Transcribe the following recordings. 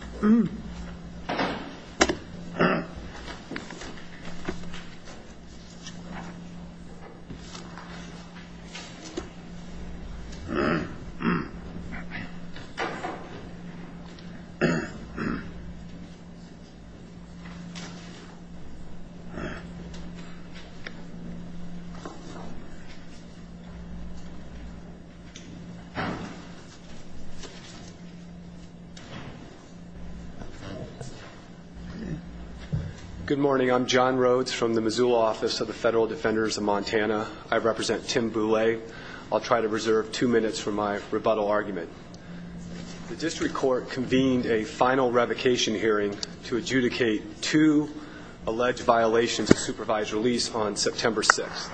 Mm-hmm Good morning I'm John Rhodes from the Missoula office of the Federal Defenders of Montana I represent Tim Bulle. I'll try to reserve two minutes for my rebuttal argument. The district court convened a final revocation hearing to adjudicate two alleged violations of supervised release on September 6th.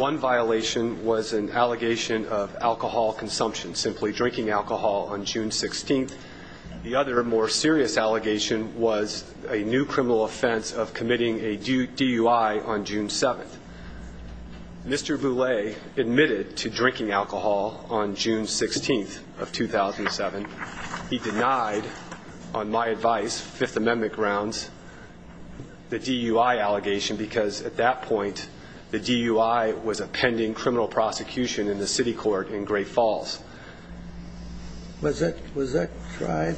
One violation was an allegation of alcohol consumption, simply drinking alcohol on June 7th. A more serious allegation was a new criminal offense of committing a DUI on June 7th. Mr. Bulle admitted to drinking alcohol on June 16th of 2007. He denied on my advice, Fifth Amendment grounds, the DUI allegation because at that point the DUI was a pending criminal prosecution in the city court in Great Falls. Was that, was that tried?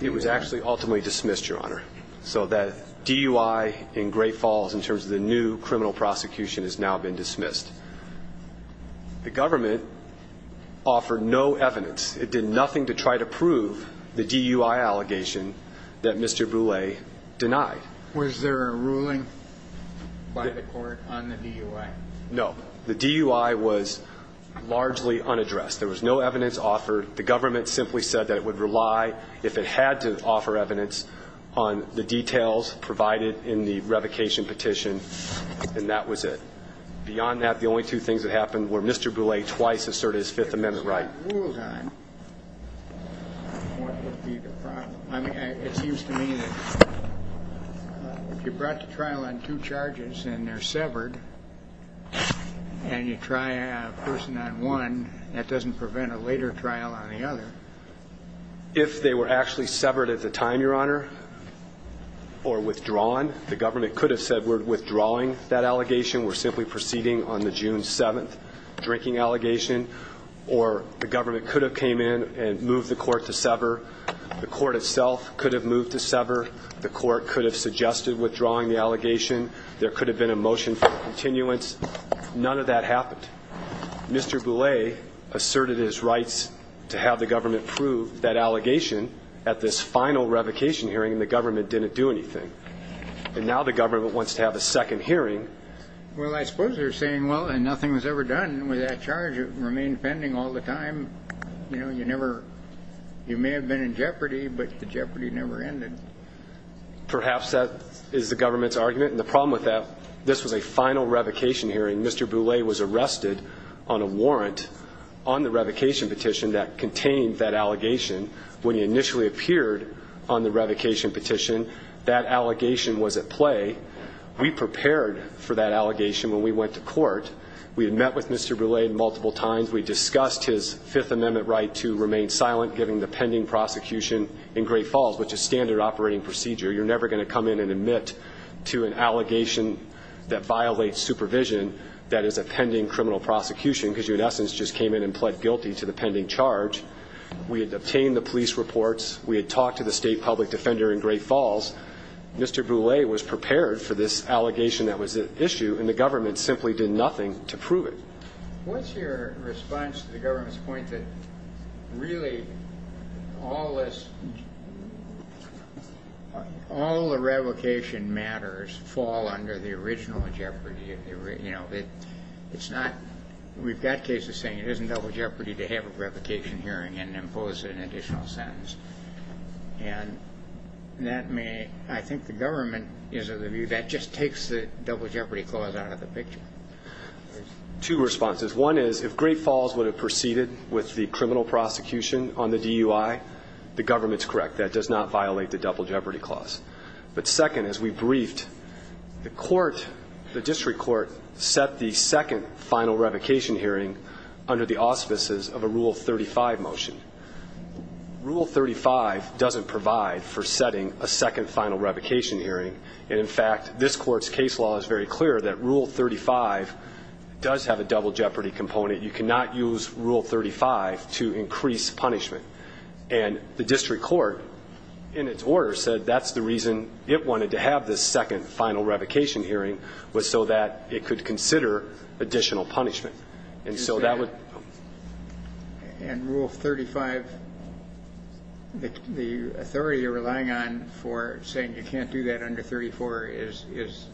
It was actually ultimately dismissed Your Honor. So that DUI in Great Falls in terms of the new criminal prosecution has now been dismissed. The government offered no evidence. It did nothing to try to prove the DUI allegation that Mr. Bulle denied. Was there a ruling by the court on the DUI? No. The DUI was largely unaddressed. There was no evidence offered. The government simply said that it would rely, if it had to offer evidence, on the details provided in the revocation petition. And that was it. Beyond that, the only two things that happened were Mr. Bulle twice asserted his Fifth Amendment right. If the court ruled on, what would be the problem? I mean, it seems to me that if you brought the trial on two charges and they're severed, and you try a person on one, that doesn't prevent a later trial on the other. If they were actually severed at the time, Your Honor, or withdrawn, the government could have said we're withdrawing that allegation. We're simply proceeding on the June 7th drinking allegation. Or the government could have came in and moved the court to sever. The court could have suggested withdrawing the allegation. There could have been a motion for continuance. None of that happened. Mr. Bulle asserted his rights to have the government prove that allegation at this final revocation hearing, and the government didn't do anything. And now the government wants to have a second hearing. Well, I suppose they're saying, well, and nothing was ever done with that charge. It remained pending all the time. You know, you never You may have been in jeopardy, but the jeopardy never ended. Perhaps that is the government's argument. And the problem with that, this was a final revocation hearing. Mr. Bulle was arrested on a warrant on the revocation petition that contained that allegation. When he initially appeared on the revocation petition, that allegation was at play. We prepared for that allegation when we went to court. We had met with Mr. Bulle multiple times. We discussed his Fifth Amendment. We were told to remain silent given the pending prosecution in Great Falls, which is standard operating procedure. You're never going to come in and admit to an allegation that violates supervision. That is a pending criminal prosecution because you in essence just came in and pled guilty to the pending charge. We had obtained the police reports. We had talked to the state public defender in Great Falls. Mr. Bulle was prepared for this allegation that was at issue, and the government simply did nothing to prove it. What's your response to the government's point that really all this, all the revocation matters fall under the original Jeopardy? You know, it's not, we've got cases saying it isn't double jeopardy to have a revocation hearing and impose an additional sentence. And that may, I think the government is of the view that just takes the double jeopardy clause out of the picture. Two responses. One is if Great Falls would have proceeded with the criminal prosecution on the DUI, the government's correct. That does not violate the double jeopardy clause. But second, as we briefed, the court, the district court set the second final revocation hearing under the auspices of a Rule 35 motion. Rule 35 doesn't provide for setting a second final revocation hearing. And in fact, this court's case law is very clear that Rule 35 does have a double jeopardy component. You cannot use Rule 35 to increase punishment. And the district court in its order said that's the reason it wanted to have this second final revocation hearing was so that it could consider additional punishment. And so that would. And Rule 35, the authority you're relying on for saying you can't do that under 34 is, is,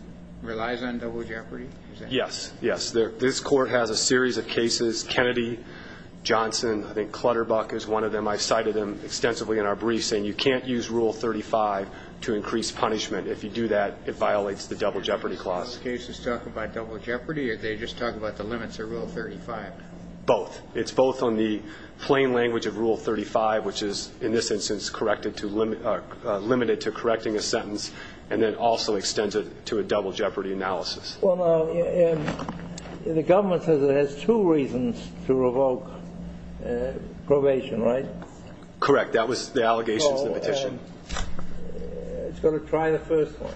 relies on double jeopardy? Yes. Yes. This court has a series of cases. Kennedy, Johnson, I think Clutterbuck is one of them. I cited them extensively in our briefs saying you can't use Rule 35 to increase punishment. If you do that, it violates the double jeopardy clause. Are those cases talking about double jeopardy or are they just talking about the limits of Rule 35? Both. It's both on the plain language of Rule 35, which is in this instance corrected to limit, limited to correcting a sentence, and then also extends it to a double jeopardy clause. So there are two reasons to revoke probation, right? Correct. That was the allegations, the petition. It's got to try the first one.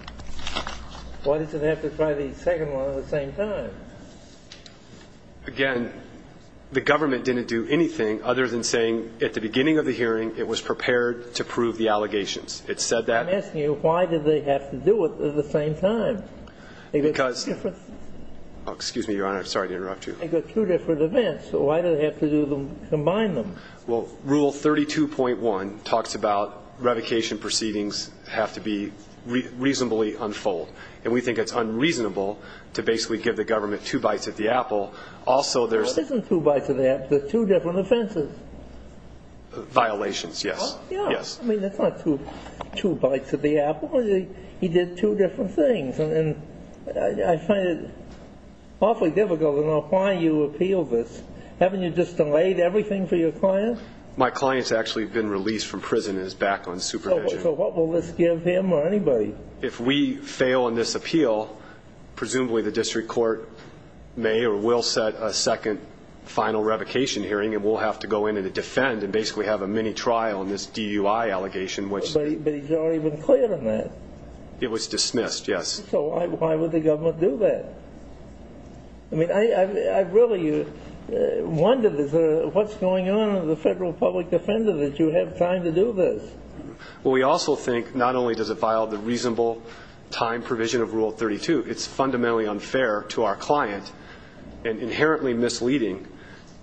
Why does it have to try the second one at the same time? Again, the government didn't do anything other than saying at the beginning of the hearing it was prepared to prove the allegations. It said that. I'm asking you, why did they have to do it at the same time? Because, excuse me, Your Honor, I'm sorry to interrupt you. They've got two different events, so why do they have to combine them? Well, Rule 32.1 talks about revocation proceedings have to be reasonably unfolded. And we think it's unreasonable to basically give the government two bites at the apple. Also, there's What isn't two bites at the apple? There's two different offenses. Violations, yes. Yes. I mean, that's not two bites at the apple. He did two different things. And I find it awfully difficult to know why you appeal this. Haven't you just delayed everything for your client? My client's actually been released from prison and is back on supervision. So what will this give him or anybody? If we fail in this appeal, presumably the district court may or will set a second final revocation hearing, and we'll have to go in and defend and basically have a mini trial in this DUI allegation. But he's already been cleared on that. It was dismissed, yes. So why would the government do that? I mean, I really wonder what's going on with the federal public defender that you have time to do this. Well, we also think not only does it vial the reasonable time provision of Rule 32, it's fundamentally unfair to our client and inherently misleading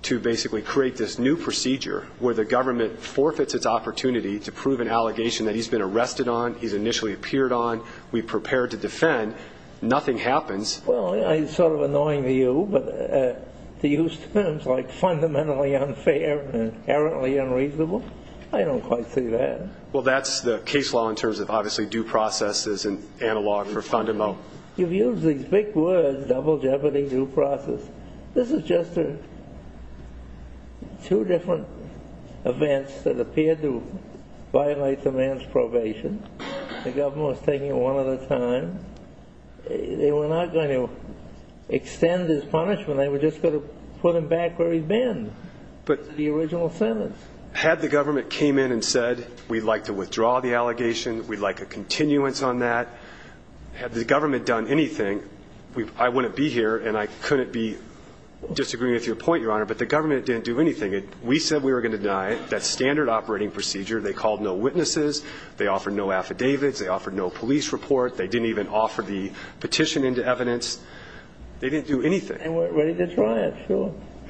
to basically create this new procedure where the government forfeits its opportunity to prove an allegation that he's been arrested on, he's initially appeared on, we've prepared to defend, nothing happens. Well, it's sort of annoying to you, but to use terms like fundamentally unfair and inherently unreasonable, I don't quite see that. Well, that's the case law in terms of obviously due process is an analog for fundamental. You've used these big words, double jeopardy, due process. This is just two different events that appeared to violate the man's probation. The government was taking it one at a time. They were not going to extend his punishment. They were just going to put him back where he'd been, the original sentence. Had the government came in and said we'd like to withdraw the allegation, we'd like a continuance on that, had the government done anything, I wouldn't be here and I couldn't be disagreeing with your point, Your Honor, but the government didn't do anything. We said we were going to deny that standard operating procedure. They called no witnesses. They offered no affidavits. They offered no police report. They didn't even offer the petition into evidence. They didn't do anything.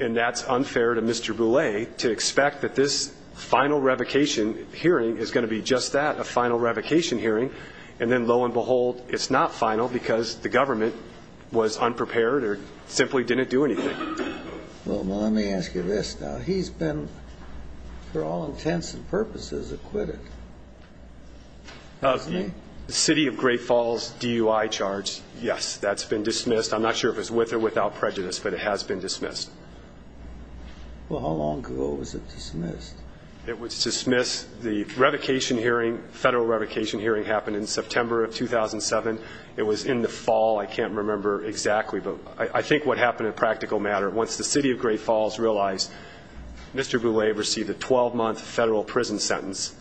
And that's unfair to Mr. Boulay to expect that this final revocation hearing is going to be just that, a final revocation hearing, and then the government was unprepared or simply didn't do anything. Well, let me ask you this now. He's been, for all intents and purposes, acquitted. The City of Great Falls DUI charge, yes, that's been dismissed. I'm not sure if it's with or without prejudice, but it has been dismissed. Well, how long ago was it dismissed? It was dismissed, the revocation hearing, federal revocation hearing happened in I can't remember exactly, but I think what happened in practical matter, once the City of Great Falls realized Mr. Boulay received a 12-month federal prison sentence,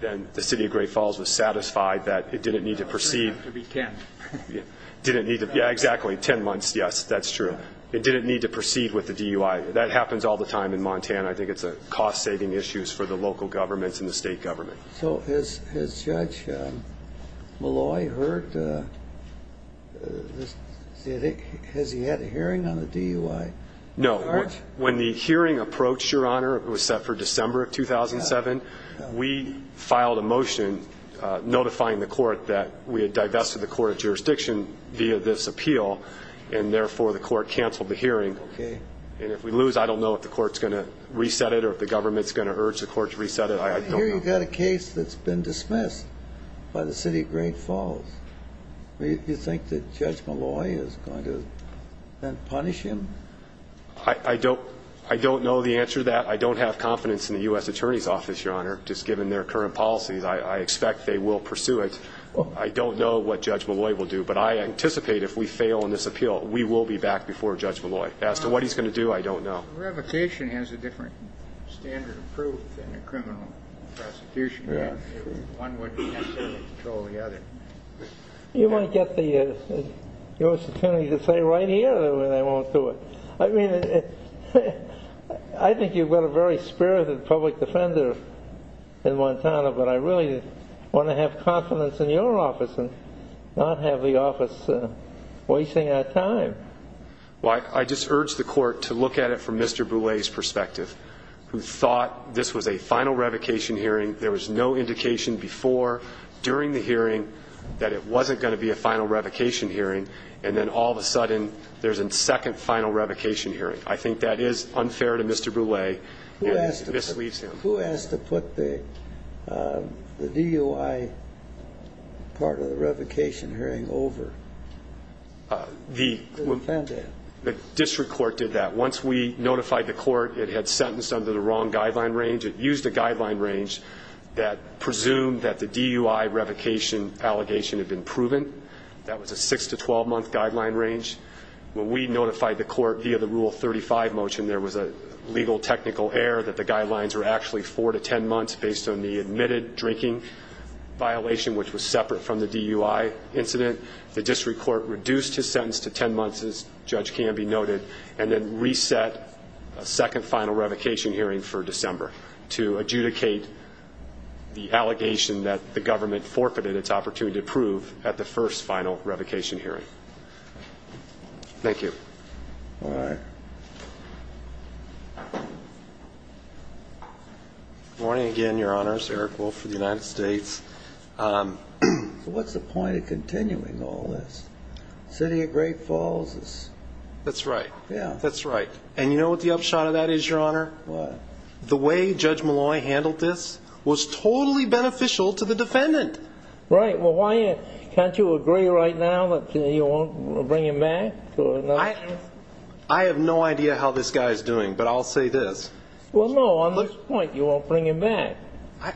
then the City of Great Falls was satisfied that it didn't need to proceed. It was cleared to be 10. Yeah, exactly, 10 months, yes, that's true. It didn't need to proceed with the DUI. That happens all the time in Montana. I think it's a cost-saving issue for the local governments and the state government. So has Judge Molloy heard, has he had a hearing on the DUI? No, when the hearing approached, Your Honor, it was set for December of 2007, we filed a motion notifying the court that we had divested the court of jurisdiction via this appeal, and therefore the court canceled the hearing, and if we lose, I don't know if the court's going to reset it or if the government's going to urge the court to reset it, I don't know. Well, here you've got a case that's been dismissed by the City of Great Falls. Do you think that Judge Molloy is going to then punish him? I don't know the answer to that. I don't have confidence in the U.S. Attorney's Office, Your Honor, just given their current policies. I expect they will pursue it. I don't know what Judge Molloy will do, but I anticipate if we fail in this appeal, we will be back before Judge Molloy. As to what he's going to do, I don't know. Well, revocation has a different standard of proof than a criminal prosecution. One wouldn't necessarily control the other. You want to get the U.S. Attorney to say right here or they won't do it? I mean, I think you've got a very spirited public defender in Montana, but I really want to have confidence in your office and not have the office wasting our time. Well, I just urge the court to look at it from Mr. Boulay's perspective, who thought this was a final revocation hearing. There was no indication before, during the hearing, that it wasn't going to be a final revocation hearing. And then all of a sudden, there's a second final revocation hearing. I think that is unfair to Mr. Boulay. Who asked to put the DOI part of the revocation hearing over? The district court did that. Once we notified the court it had sentenced under the wrong guideline range. It used a guideline range that presumed that the DUI revocation allegation had been proven. That was a 6-12 month guideline range. When we notified the court via the Rule 35 motion, there was a legal technical error that the guidelines were actually 4-10 months based on the admitted drinking violation, which was separate from the DUI incident. The district court reduced his sentence to 10 months, as Judge Canby noted, and then reset a second final revocation hearing for December to adjudicate the allegation that the government forfeited its opportunity to prove at the first final revocation hearing. Thank you. All right. Good morning again, Your Honors. Eric Wolf for the United States. What's the point of continuing all this? The city of Great Falls is... That's right. Yeah. That's right. And you know what the upshot of that is, Your Honor? What? The way Judge Molloy handled this was totally beneficial to the defendant. Right. Well, why can't you agree right now that you won't bring him back? I have no idea how this guy is doing, but I'll say this. Well, no, on this point you won't bring him back.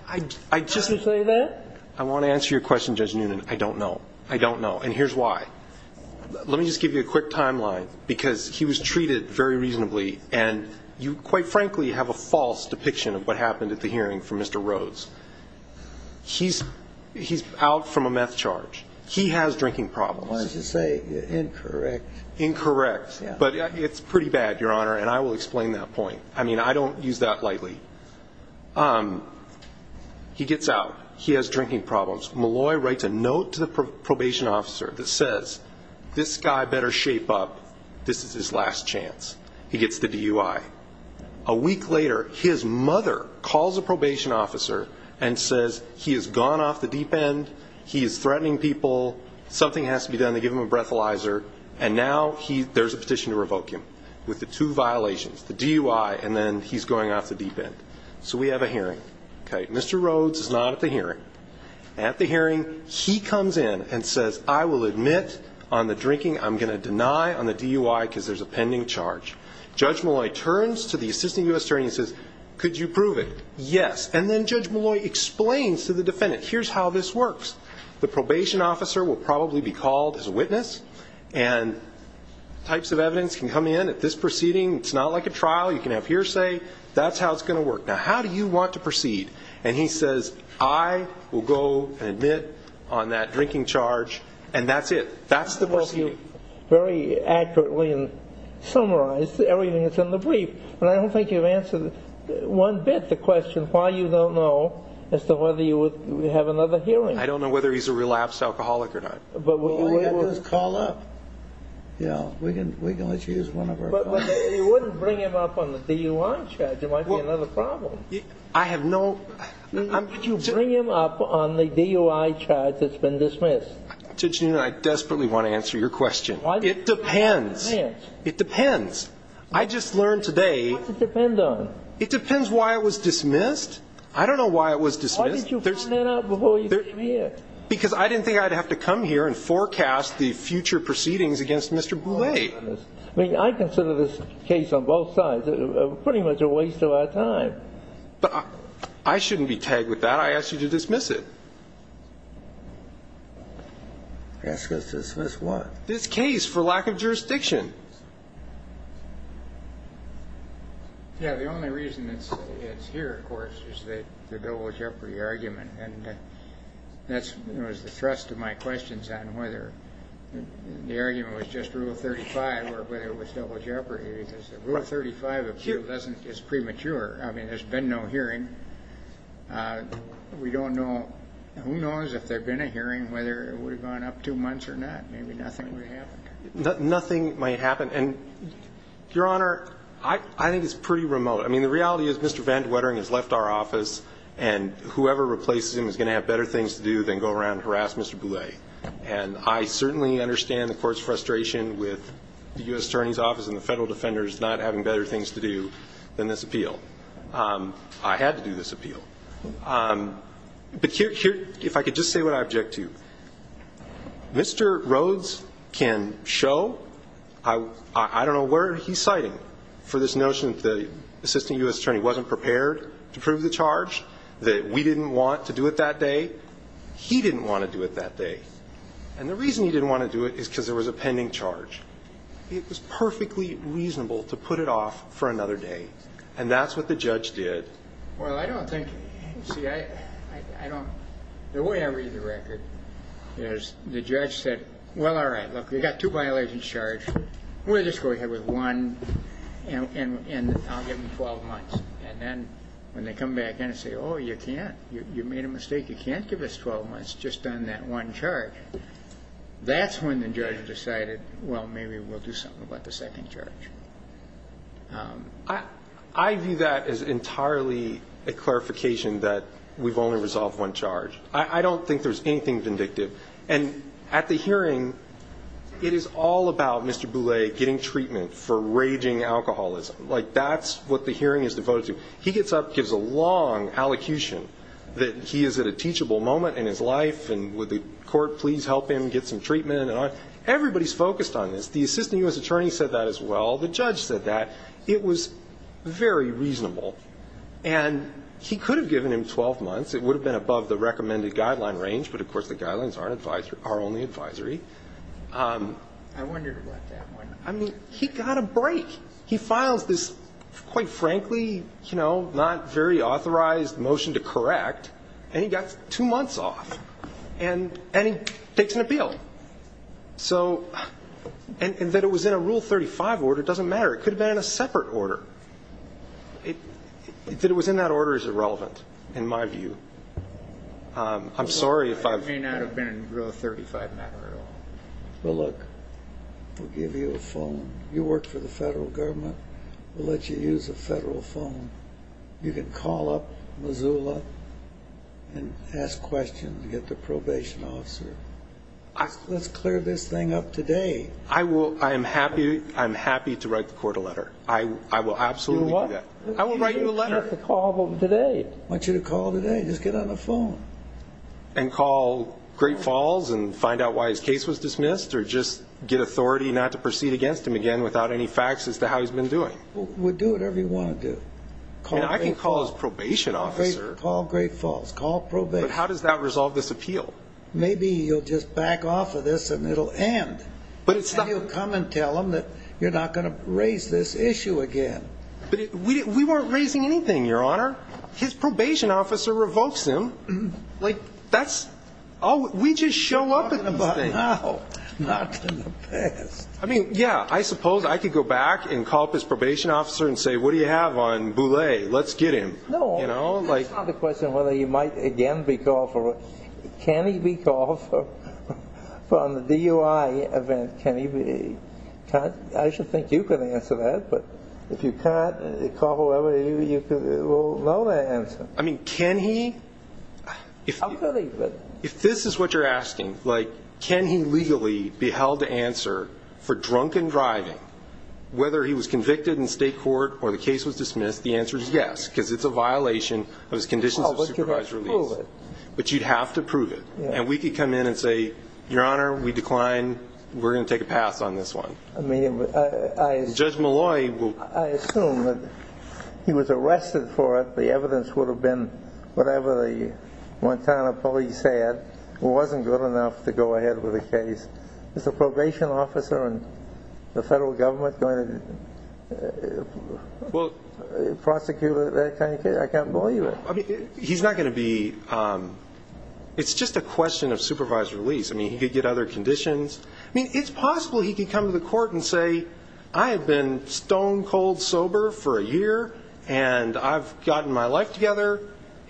I just... I want to answer your question, Judge Noonan. I don't know. I don't know. And here's why. Let me just give you a quick timeline, because he was treated very reasonably and you, quite frankly, have a false depiction of what happened at the hearing for Mr. Rhodes. He's out from a meth charge. He has drinking problems. Why did you say incorrect? Incorrect. Yeah. But it's pretty bad, Your Honor, and I will explain that point. I mean, I don't use that lightly. He gets out. He has drinking problems. Molloy writes a note to the probation officer that says, This guy better shape up. This is his last chance. He gets the DUI. A week later, his mother calls a probation officer and says he has gone off the deep end. He is threatening people. Something has to be done. They give him a breathalyzer, and now there's a petition to revoke him So we have a hearing. Mr. Rhodes is not at the hearing. At the hearing, he comes in and says, I will admit on the drinking I'm going to deny on the DUI, because there's a pending charge. Judge Molloy turns to the assistant U.S. attorney and says, Could you prove it? Yes. And then Judge Molloy explains to the defendant, Here's how this works. The probation officer will probably be called as a witness, and types of evidence can come in at this proceeding. It's not like a trial. You can have hearsay. That's how it's going to work. Now, how do you want to proceed? And he says, I will go and admit on that drinking charge, and that's it. That's the proceeding. I hope you very accurately summarized everything that's in the brief, but I don't think you've answered one bit the question why you don't know as to whether you would have another hearing. I don't know whether he's a relapsed alcoholic or not. We'll have to call up. We can let you use one of our phones. You wouldn't bring him up on the DUI charge. It might be another problem. I have no... Would you bring him up on the DUI charge that's been dismissed? Judge Newton, I desperately want to answer your question. It depends. It depends. It depends. I just learned today... What's it depend on? It depends why it was dismissed. I don't know why it was dismissed. Why didn't you find that out before you came here? Because I didn't think I'd have to come here and forecast the future proceedings against Mr. Boulay. I mean, I consider this case on both sides pretty much a waste of our time. But I shouldn't be tagged with that. I asked you to dismiss it. Ask us to dismiss what? This case for lack of jurisdiction. Yeah, the only reason it's here, of course, is that the Bilbo Jeopardy argument, and that's the thrust of my questions on whether the argument was just Rule 35 or whether it was double jeopardy. Rule 35 is premature. I mean, there's been no hearing. We don't know... Who knows if there'd been a hearing, whether it would have gone up two months or not. Maybe nothing would have happened. Nothing might happen. And, Your Honor, I think it's pretty remote. I mean, the reality is Mr. Van Dwettering has left our office and whoever replaces him is going to have better things to do than go around and harass Mr. Boulay. And I certainly understand the court's frustration with the U.S. Attorney's Office and the federal defenders not having better things to do than this appeal. I had to do this appeal. But here... If I could just say what I object to. Mr. Rhodes can show... I don't know where he's citing for this notion that the assistant U.S. attorney wasn't prepared to prove the charge, that we didn't want to do it that day. He didn't want to do it that day. And the reason he didn't want to do it is because there was a pending charge. It was perfectly reasonable to put it off for another day. And that's what the judge did. Well, I don't think... See, I don't... The way I read the record is the judge said, Well, all right, look, we've got two violations charged. We'll just go ahead with one and I'll give him 12 months. And then when they come back in and say, Oh, you can't. You made a mistake. You can't give us 12 months just on that one charge. That's when the judge decided, Well, maybe we'll do something about the second charge. I view that as entirely a clarification that we've only resolved one charge. I don't think there's anything vindictive. And at the hearing, it is all about Mr. Boulay getting treatment for raging alcoholism. Like, that's what the hearing is devoted to. He gets up, gives a long allocution that he is at a teachable moment in his life and would the court please help him get some treatment. Everybody's focused on this. The assistant U.S. attorney said that as well. The judge said that. It was very reasonable. And he could have given him 12 months. It would have been above the recommended guideline range, but of course the guidelines are only advisory. I wondered about that one. I mean, he got a break. He files this, quite frankly, you know, not very authorized motion to correct, and he got 2 months off. And he takes an appeal. So... And that it was in a Rule 35 order doesn't matter. It could have been in a separate order. That it was in that order is irrelevant, in my view. I'm sorry if I've... It may not have been Rule 35 matter at all. Well, look, we'll give you a phone. You work for the federal government. We'll let you use a federal phone. You can call up Missoula and ask questions, get the probation officer. Let's clear this thing up today. I am happy to write the court a letter. I will absolutely do that. I will write you a letter. I want you to call today. Just get on the phone. And call Great Falls and find out why his case was dismissed or just get authority not to proceed against him again without any facts as to how he's been doing. Well, do whatever you want to do. And I can call his probation officer. Call Great Falls. Call probation. But how does that resolve this appeal? Maybe you'll just back off of this and it'll end. And you'll come and tell him that you're not gonna raise this issue again. But we weren't raising anything, Your Honor. His probation officer revokes him. Like, that's... Oh, we just show up at this thing. Oh, not in the past. I mean, yeah, I suppose I could go back and call up his probation officer and say, what do you have on Boulay? Let's get him. That's not the question whether he might again be called for... Can he be called for the DUI event? Can he be... I should think you could answer that. But if you can't, call whoever you... I mean, can he? How could he? If this is what you're asking, like, can he legally be held to answer for drunken driving whether he was convicted in state court or the case was dismissed, the answer is yes, because it's a violation of his conditions of supervised release. But you'd have to prove it. And we could come in and say, Your Honor, we decline. We're gonna take a pass on this one. Judge Molloy will... I assume that he was arrested for it. The evidence would have been whatever the Montana police had wasn't good enough to go ahead with the case. Is a probation officer in the federal government going to prosecute that kind of case? I can't believe it. He's not gonna be... It's just a question of supervised release. He could get other conditions. I have been stone-cold sober for a year, and I've gotten my life together,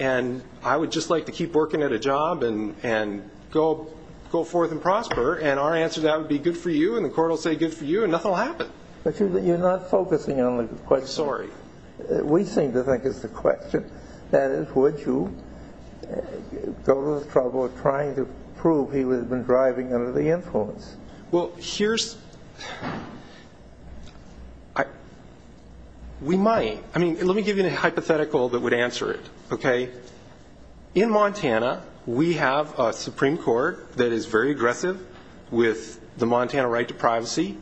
and I would just like to keep working at a job and go forth and prosper, and our answer to that would be good for you, and the court will say good for you, and nothing will happen. But you're not focusing on the question. I'm sorry. We seem to think it's the question. That is, would you go to the trouble of trying to prove he would have been driving under the influence? Well, here's... We might. Let me give you a hypothetical that would answer it. In Montana, we have a Supreme Court that is very aggressive with the Montana right to privacy.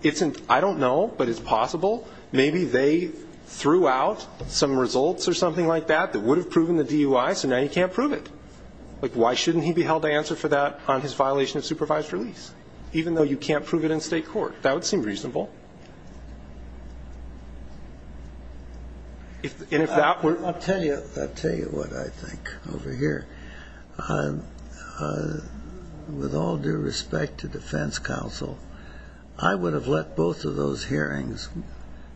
I don't know, but it's possible maybe they threw out some results or something like that that would have proven the DUI, so now you can't prove it. Why shouldn't he be held to answer for that on his violation of supervised release, even though you can't prove it in state court? That would seem reasonable. And if that were... I'll tell you what I think over here. With all due respect to defense counsel, I would have let both of those hearings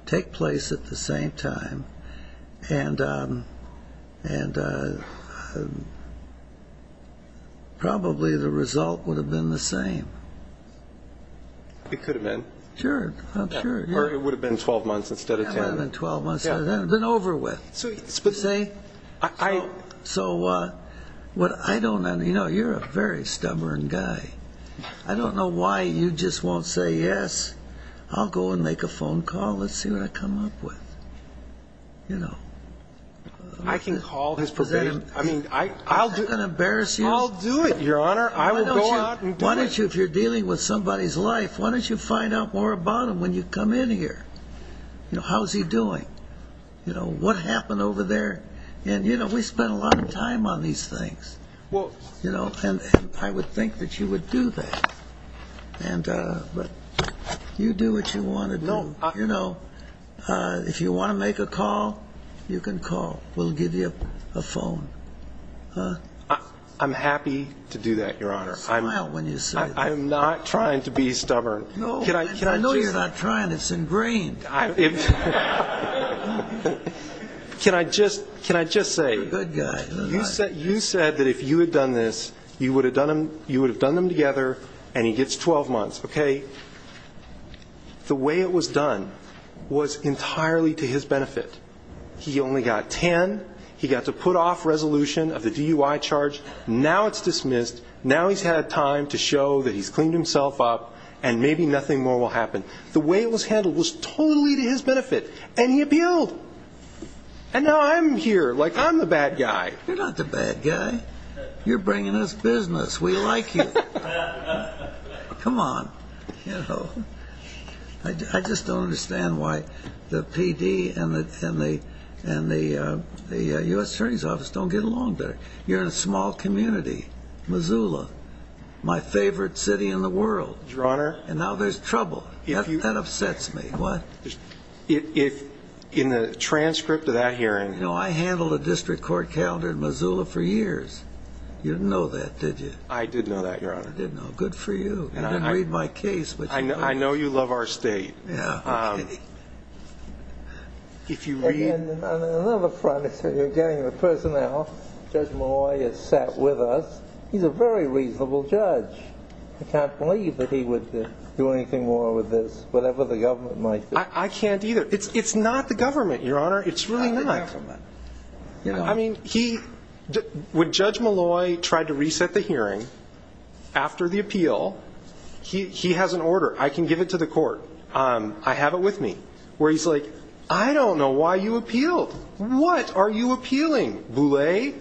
take place at the same time, and and probably the result would have been the same. It could have been. Sure, I'm sure. Or it would have been 12 months instead of 10. It would have been over with. You see? So, you know, you're a very stubborn guy. I don't know why you just won't say, yes, I'll go and make a phone call, let's see what I come up with. You know. I can call his probation... I'm not going to embarrass you. I'll do it, Your Honor. Why don't you, if you're dealing with somebody's life, why don't you find out more about him when you come in here? How's he doing? What happened over there? We spend a lot of time on these things. And I would think that you would do that. You do what you want to do. If you want to make a call, you can call. We'll give you a phone. I'm happy to do that, Your Honor. I'm not trying to be stubborn. I know you're not trying. It's ingrained. Can I just say you said that if you had done this, you would have done them together and he gets 12 months. The way it was done was entirely to his benefit. He only got 10. He got to put off resolution of the DUI charge. Now it's dismissed. Now he's had time to show that he's cleaned himself up and maybe nothing more will happen. The way it was handled was totally to his benefit. And he appealed. And now I'm here. Like I'm the bad guy. You're not the bad guy. You're bringing us business. We like you. Come on. I just don't understand why the PD and the U.S. Attorney's Office don't get along better. You're in a small community. Missoula. My favorite city in the world. And now there's trouble. That upsets me. In the transcript of that hearing... I handled the district court calendar in Missoula for years. You didn't know that, did you? I didn't know that, Your Honor. Good for you. You didn't read my case. I know you love our state. On another front, you're getting the personnel. Judge Malloy has sat with us. He's a very reasonable judge. I can't believe that he would do anything more with this. Whatever the government might do. I can't either. It's not the government, Your Honor. It's really not. When Judge Malloy tried to reset the hearing after the appeal, he has an order. I can give it to the court. I have it with me. Where he's like, I don't know why you appealed. What are you appealing? Boule?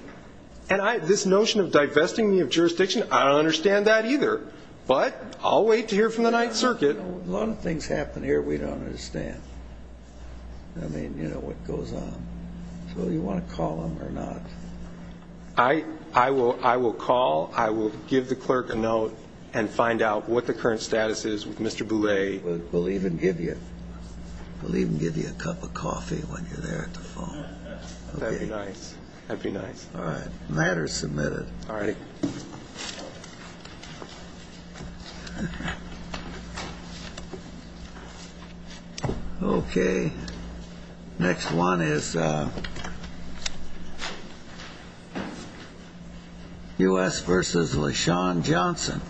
This notion of divesting me of jurisdiction, I don't understand that either. But I'll wait to hear from the 9th Circuit. A lot of things happen here we don't understand. I mean, you know what goes on. So do you want to call him or not? I will call. I will give the clerk a note and find out what the current status is with Mr. Boule. We'll even give you a cup of coffee when you're there at the phone. That'd be nice. Alright, matter submitted. Alright. Okay. Next one is U.S. v. LeSean Johnson.